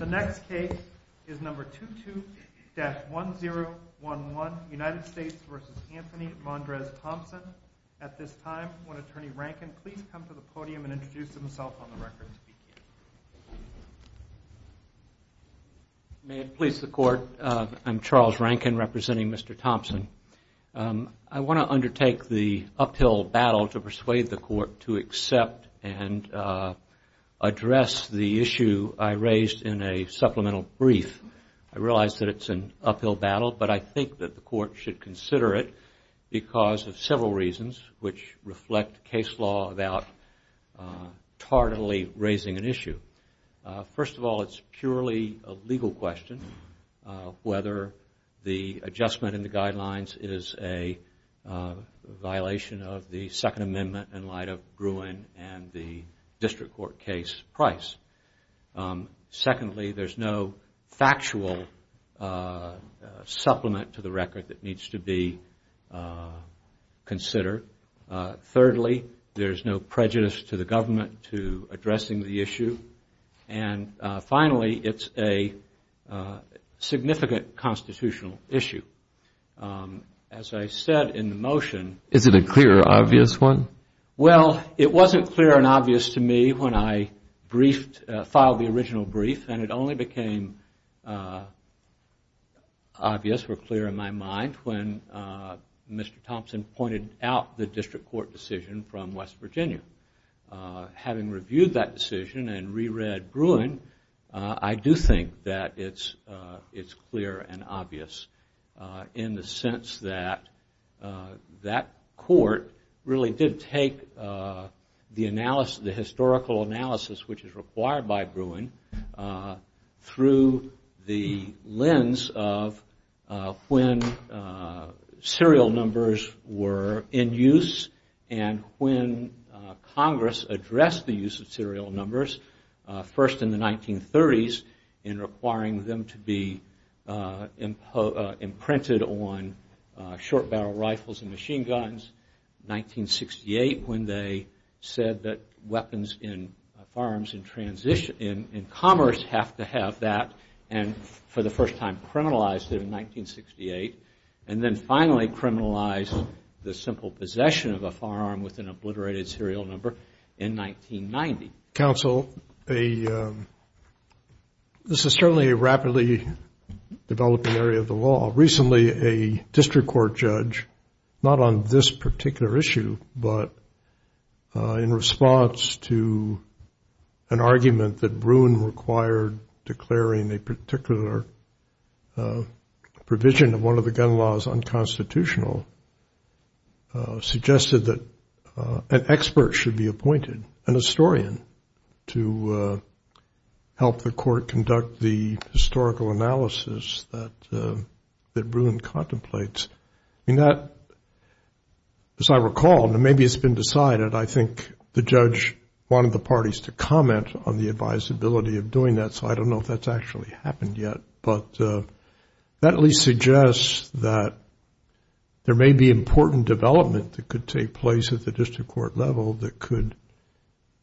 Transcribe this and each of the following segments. May it please the court, I'm Charles Rankin representing Mr. Thompson. I want to undertake the uphill battle to persuade the court to accept and address the issue I raise with you today, and that is the issue of the United States v. Anthony Mondrez-Thompson. I realize that it's an uphill battle, but I think that the court should consider it because of several reasons which reflect case law without tardily raising an issue. First of all, it's purely a legal question whether the adjustment in the guidelines is a violation of the Second Amendment in light of Gruen and the district court case price. Secondly, there's no factual supplement to the record that needs to be considered. Thirdly, there's no prejudice to the government to addressing the issue. And finally, it's a significant constitutional issue. As I said in the motion. Is it a clear or obvious one? Well, it wasn't clear and obvious to me when I filed the original brief, and it only became obvious or clear in my mind when Mr. Thompson pointed out the district court decision from West Virginia. Having reviewed that decision and re-read Gruen, I do think that it's clear and obvious in the sense that that court really did take the historical analysis, which is required by Gruen, through the lens of when serial numbers were in use and when Congress addressed the use of serial numbers, first in the 1930s in requiring them to be imprinted on short barrel rifles and machine guns, 1968 when they said that weapons in commerce have to have that, and for the first time criminalized it in 1968. And then finally criminalized the simple possession of a firearm with an obliterated serial number in 1990. Counsel, this is certainly a rapidly developing area of the law. to help the court conduct the historical analysis that Gruen contemplates. And that, as I recall, and maybe it's been decided, I think the judge wanted the parties to comment on the advisability of doing that. So I don't know if that's actually happened yet, but that at least suggests that there may be important development that could take place at the district court level that could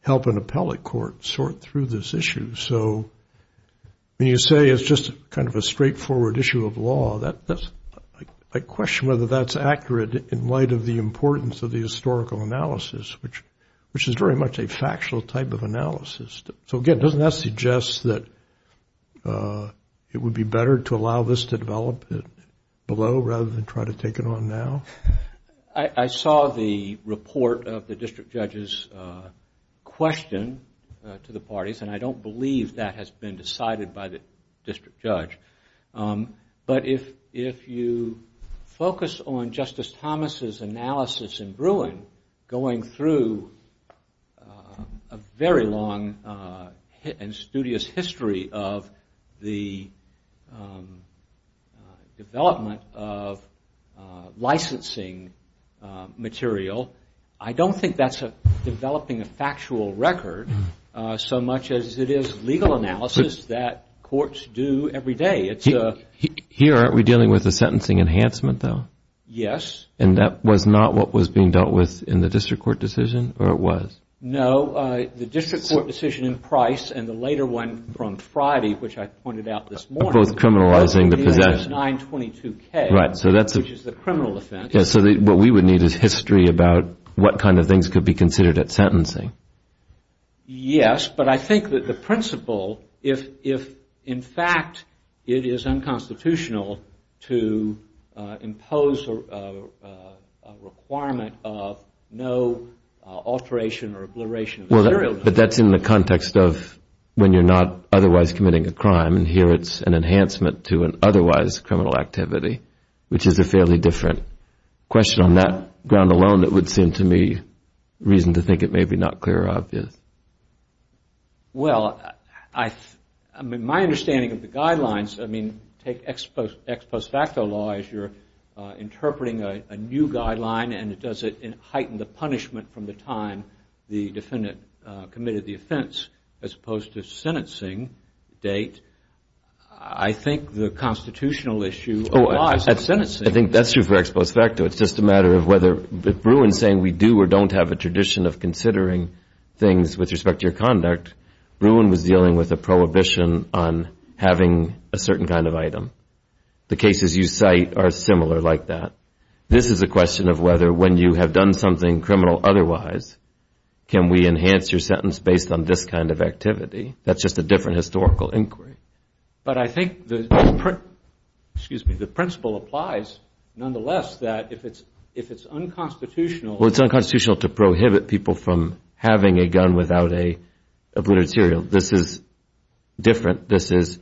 help an appellate court sort through this issue. So when you say it's just kind of a straightforward issue of law, I question whether that's accurate in light of the importance of the historical analysis, which is very much a factual type of analysis. So again, doesn't that suggest that it would be better to allow this to develop below rather than try to take it on now? I saw the report of the district judge's question to the parties, and I don't believe that has been decided by the district judge. But if you focus on Justice Thomas' analysis in Gruen going through a very long and studious history of the development of licensing material, I don't think that's developing a factual record so much as it is legal analysis that courts do every day. Here, aren't we dealing with a sentencing enhancement, though? Yes. And that was not what was being dealt with in the district court decision, or it was? No. The district court decision in Price and the later one from Friday, which I pointed out this morning. Both criminalizing the possession. 922K, which is the criminal offense. So what we would need is history about what kind of things could be considered at sentencing. Yes, but I think that the principle, if in fact it is unconstitutional to impose a requirement of no alteration or obliteration of the serial number. But that's in the context of when you're not otherwise committing a crime, and here it's an enhancement to an otherwise criminal activity, which is a fairly different question on that ground alone that would seem to me reason to think it may be not clear or obvious. Well, my understanding of the guidelines, I mean, take ex post facto law as you're interpreting a new guideline and does it heighten the punishment from the time the defendant committed the offense as opposed to sentencing date. I think the constitutional issue applies at sentencing. I think that's true for ex post facto. It's just a matter of whether if Bruin's saying we do or don't have a tradition of considering things with respect to your conduct, Bruin was dealing with a prohibition on having a certain kind of item. The cases you cite are similar like that. This is a question of whether when you have done something criminal otherwise, can we enhance your sentence based on this kind of activity? That's just a different historical inquiry. But I think the principle applies nonetheless that if it's unconstitutional. Well, it's unconstitutional to prohibit people from having a gun without a blunted serial. This is different. This is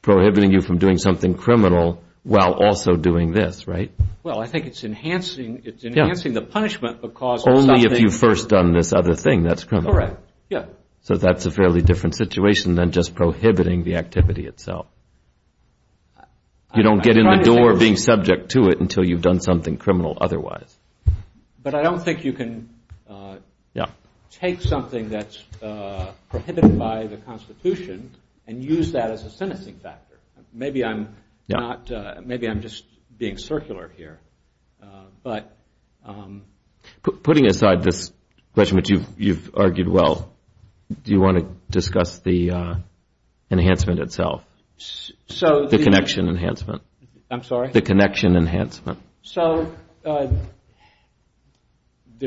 prohibiting you from doing something criminal while also doing this, right? Well, I think it's enhancing the punishment because of something. Only if you've first done this other thing that's criminal. Correct. Yeah. So that's a fairly different situation than just prohibiting the activity itself. You don't get in the door being subject to it until you've done something criminal otherwise. But I don't think you can take something that's prohibited by the Constitution and use that as a sentencing factor. Maybe I'm just being circular here. Putting aside this question, which you've argued well, do you want to discuss the enhancement itself? The connection enhancement. I'm sorry? The connection enhancement. So there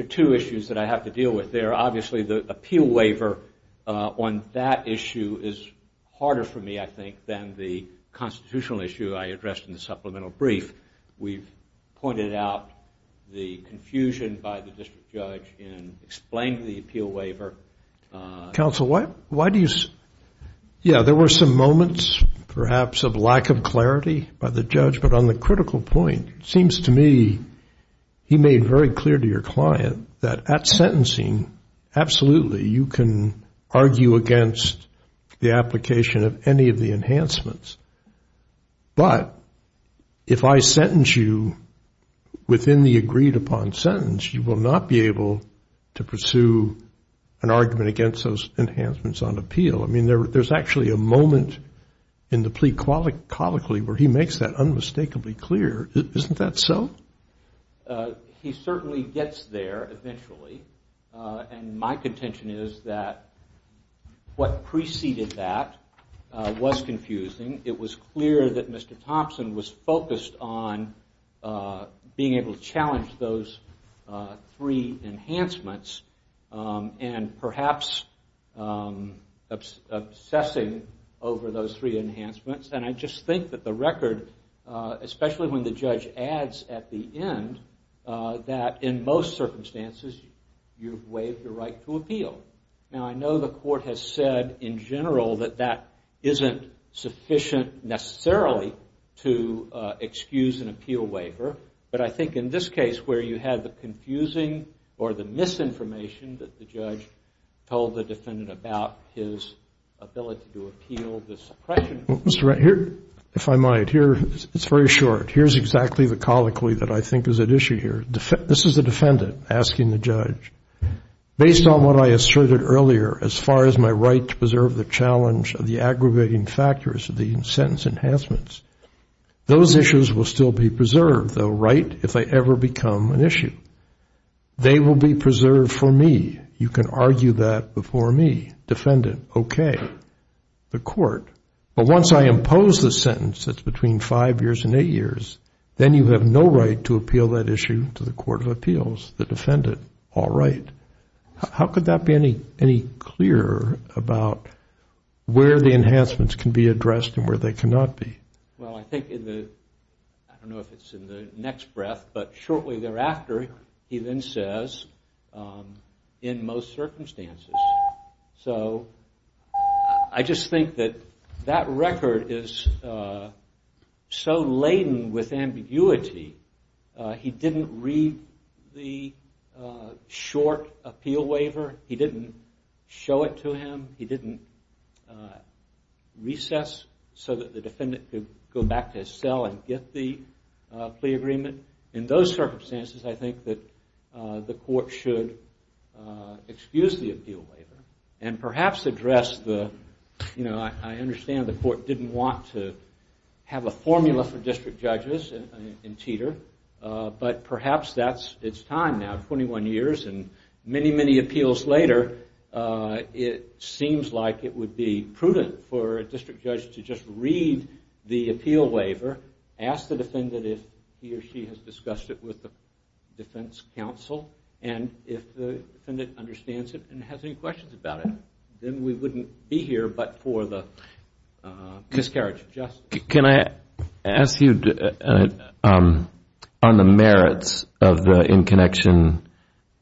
are two issues that I have to deal with there. Obviously, the appeal waiver on that issue is harder for me, I think, than the constitutional issue I addressed in the supplemental brief. We've pointed out the confusion by the district judge in explaining the appeal waiver. Counsel, why do you – yeah, there were some moments perhaps of lack of clarity by the judge. But on the critical point, it seems to me he made very clear to your client that at sentencing, absolutely you can argue against the application of any of the enhancements. But if I sentence you within the agreed upon sentence, you will not be able to pursue an argument against those enhancements on appeal. I mean, there's actually a moment in the plea colloquially where he makes that unmistakably clear. Isn't that so? He certainly gets there eventually. And my contention is that what preceded that was confusing. It was clear that Mr. Thompson was focused on being able to challenge those three enhancements and perhaps obsessing over those three enhancements. And I just think that the record, especially when the judge adds at the end, that in most circumstances you've waived your right to appeal. Now, I know the court has said in general that that isn't sufficient necessarily to excuse an appeal waiver. But I think in this case where you have the confusing or the misinformation that the judge told the defendant about his ability to appeal the suppression. Mr. Wright, if I might, it's very short. Here's exactly the colloquy that I think is at issue here. This is the defendant asking the judge, based on what I asserted earlier as far as my right to preserve the challenge of the aggravating factors of the sentence enhancements, those issues will still be preserved, though, right, if they ever become an issue. They will be preserved for me. You can argue that before me. Defendant, okay. The court. But once I impose the sentence that's between five years and eight years, then you have no right to appeal that issue to the Court of Appeals. The defendant, all right. How could that be any clearer about where the enhancements can be addressed and where they cannot be? Well, I think in the, I don't know if it's in the next breath, but shortly thereafter, he then says, in most circumstances. So I just think that that record is so laden with ambiguity. He didn't read the short appeal waiver. He didn't show it to him. He didn't recess so that the defendant could go back to his cell and get the plea agreement. In those circumstances, I think that the court should excuse the appeal waiver and perhaps address the, you know, I understand the court didn't want to have a formula for district judges in Teeter, but perhaps that's its time now, 21 years and many, many appeals later. It seems like it would be prudent for a district judge to just read the appeal waiver, ask the defendant if he or she has discussed it with the defense counsel, and if the defendant understands it and has any questions about it, then we wouldn't be here but for the miscarriage of justice. Can I ask you on the merits of the in-connection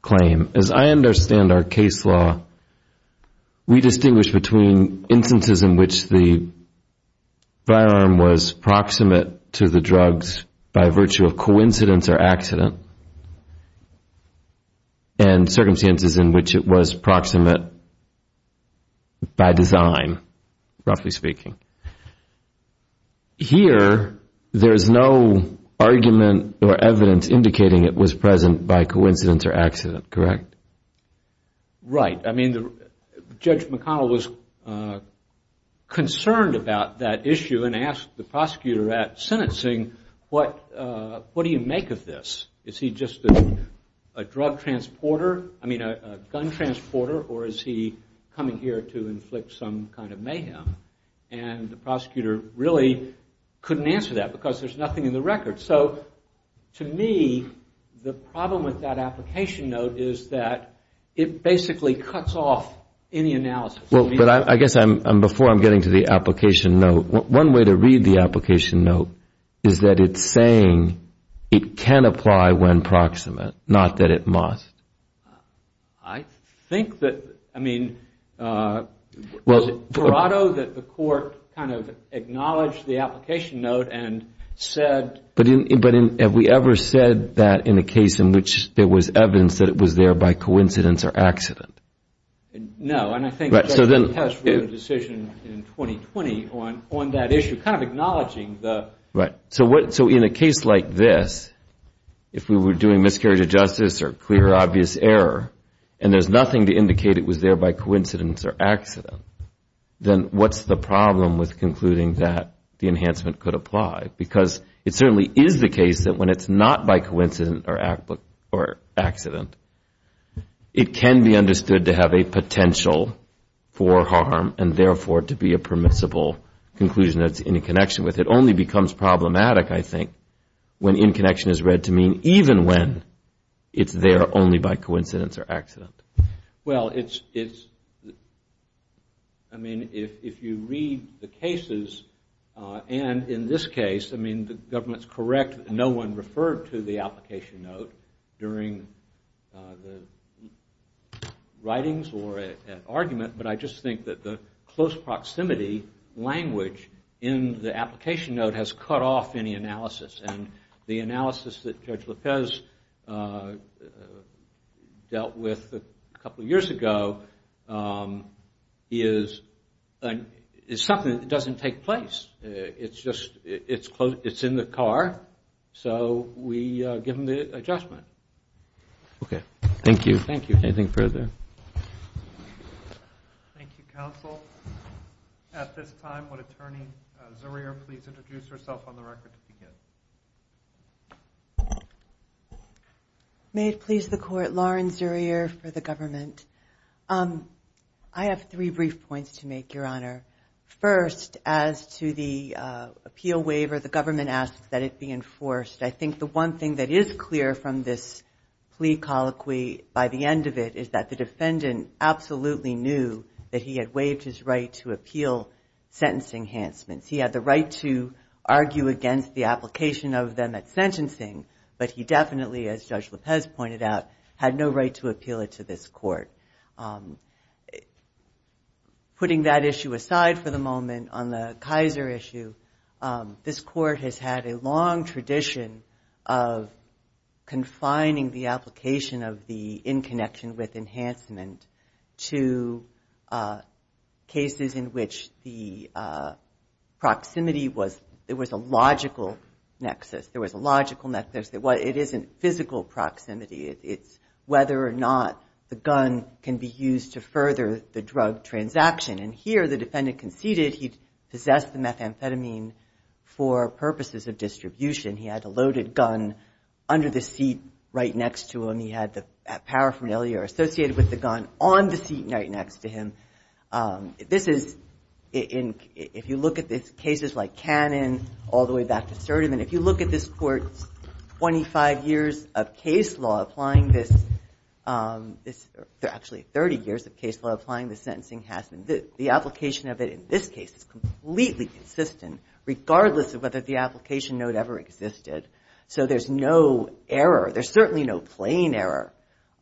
claim? As I understand our case law, we distinguish between instances in which the firearm was proximate to the drugs by virtue of coincidence or accident and circumstances in which it was proximate by design, roughly speaking. Here, there's no argument or evidence indicating it was present by coincidence or accident, correct? Right. I mean, Judge McConnell was concerned about that issue and asked the prosecutor at sentencing, what do you make of this? Is he just a drug transporter, I mean, a gun transporter, or is he coming here to inflict some kind of mayhem? And the prosecutor really couldn't answer that because there's nothing in the record. So to me, the problem with that application note is that it basically cuts off any analysis. But I guess before I'm getting to the application note, one way to read the application note is that it's saying it can apply when proximate, not that it must. I think that, I mean, was it for auto that the court kind of acknowledged the application note and said? But have we ever said that in a case in which there was evidence that it was there by coincidence or accident? No. And I think the judge made a decision in 2020 on that issue, kind of acknowledging the… Right. So in a case like this, if we were doing miscarriage of justice or clear, obvious error, and there's nothing to indicate it was there by coincidence or accident, then what's the problem with concluding that the enhancement could apply? Because it certainly is the case that when it's not by coincidence or accident, it can be understood to have a potential for harm and, therefore, to be a permissible conclusion that's in connection with it only becomes problematic, I think, when in connection is read to mean even when it's there only by coincidence or accident. Well, it's, I mean, if you read the cases, and in this case, I mean, the government's correct. No one referred to the application note during the writings or at argument, but I just think that the close proximity language in the application note has cut off any analysis, and the analysis that Judge Lopez dealt with a couple of years ago is something that doesn't take place. It's just, it's in the car, so we give him the adjustment. Thank you. Anything further? Thank you, counsel. At this time, would Attorney Zurier please introduce herself on the record to begin? May it please the Court, Lauren Zurier for the government. I have three brief points to make, Your Honor. First, as to the appeal waiver, the government asks that it be enforced. I think the one thing that is clear from this plea colloquy, by the end of it, is that the defendant absolutely knew that he had waived his right to appeal sentencing enhancements. He had the right to argue against the application of them at sentencing, but he definitely, as Judge Lopez pointed out, had no right to appeal it to this Court. Putting that issue aside for the moment, on the Kaiser issue, this Court has had a long tradition of confining the application of the in-connection with enhancement to cases in which the proximity was, it was a logical nexus. There was a logical nexus. It isn't physical proximity. It's whether or not the gun can be used to further the drug transaction. And here, the defendant conceded he possessed the methamphetamine for purposes of distribution. He had a loaded gun under the seat right next to him. He had the paraphernalia associated with the gun on the seat right next to him. This is, if you look at the cases like Cannon all the way back to Serderman, if you look at this Court's 25 years of case law applying this, actually 30 years of case law applying this sentencing, the application of it in this case is completely consistent, regardless of whether the application note ever existed. So there's no error. There's certainly no plain error,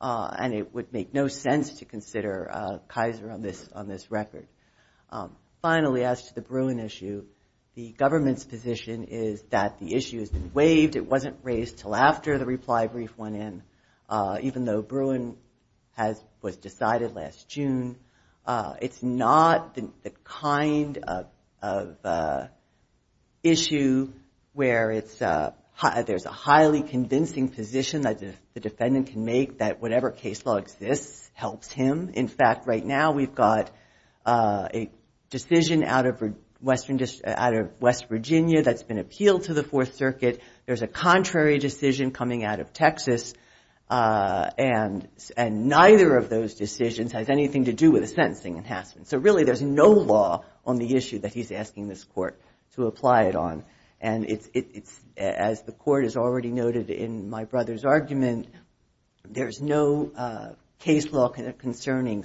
and it would make no sense to consider Kaiser on this record. Finally, as to the Bruin issue, the government's position is that the issue has been waived. It wasn't raised until after the reply brief went in. Even though Bruin was decided last June, it's not the kind of issue where there's a highly convincing position that the defendant can make that whatever case law exists helps him. In fact, right now we've got a decision out of West Virginia that's been appealed to the Fourth Circuit. There's a contrary decision coming out of Texas, and neither of those decisions has anything to do with the sentencing enhancement. So really there's no law on the issue that he's asking this Court to apply it on. And as the Court has already noted in my brother's argument, there's no case law concerning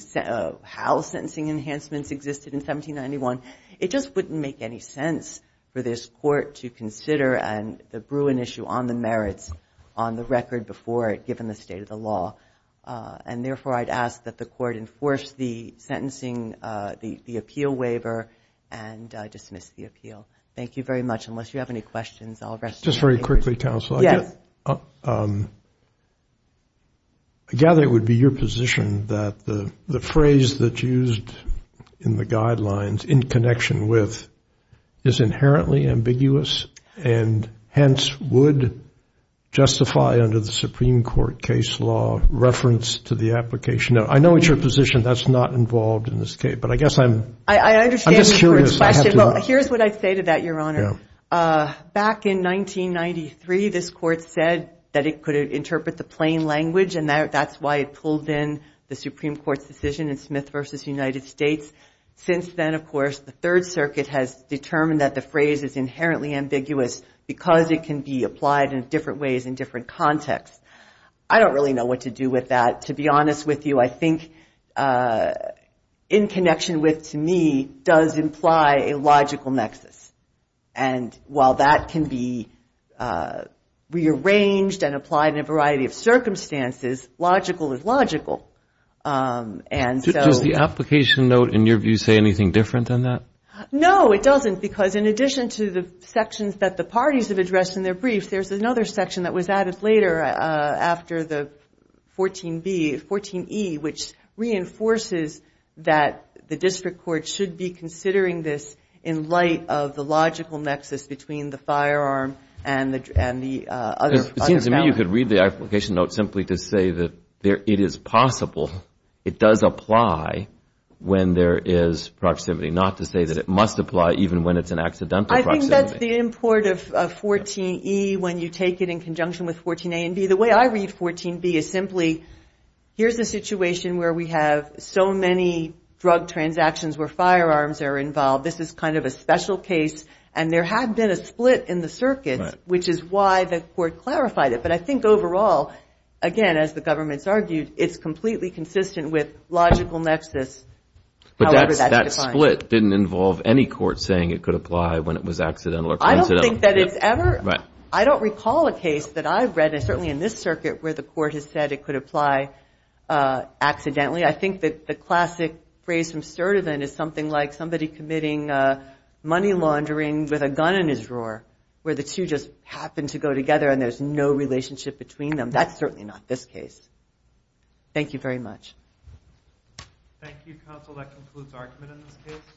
how sentencing enhancements existed in 1791. It just wouldn't make any sense for this Court to consider the Bruin issue on the merits on the record before it, given the state of the law. And, therefore, I'd ask that the Court enforce the sentencing, the appeal waiver, and dismiss the appeal. Thank you very much. Just very quickly, Counsel. Yes. I gather it would be your position that the phrase that's used in the guidelines, in connection with, is inherently ambiguous, and hence would justify under the Supreme Court case law reference to the application. I know it's your position that's not involved in this case, but I guess I'm just curious. I understand your question. Well, here's what I'd say to that, Your Honor. Back in 1993, this Court said that it could interpret the plain language, and that's why it pulled in the Supreme Court's decision in Smith v. United States. Since then, of course, the Third Circuit has determined that the phrase is inherently ambiguous because it can be applied in different ways in different contexts. I don't really know what to do with that. To be honest with you, I think in connection with, to me, does imply a logical nexus. And while that can be rearranged and applied in a variety of circumstances, logical is logical. Does the application note, in your view, say anything different than that? No, it doesn't, because in addition to the sections that the parties have addressed in their briefs, there's another section that was added later after the 14b, 14e, which reinforces that the district court should be considering this in light of the logical nexus between the firearm and the other gun. It seems to me you could read the application note simply to say that it is possible, it does apply when there is proximity, not to say that it must apply even when it's an accidental proximity. I think that's the import of 14e when you take it in conjunction with 14a and b. The way I read 14b is simply here's a situation where we have so many drug transactions where firearms are involved. This is kind of a special case, and there had been a split in the circuits, which is why the court clarified it. But I think overall, again, as the government's argued, it's completely consistent with logical nexus. But that split didn't involve any court saying it could apply when it was accidental or coincidental. I don't recall a case that I've read, and certainly in this circuit, where the court has said it could apply accidentally. I think that the classic phrase from Sturtevant is something like somebody committing money laundering with a gun in his drawer, where the two just happen to go together and there's no relationship between them. That's certainly not this case. Thank you very much. Thank you, counsel. That concludes argument in this case.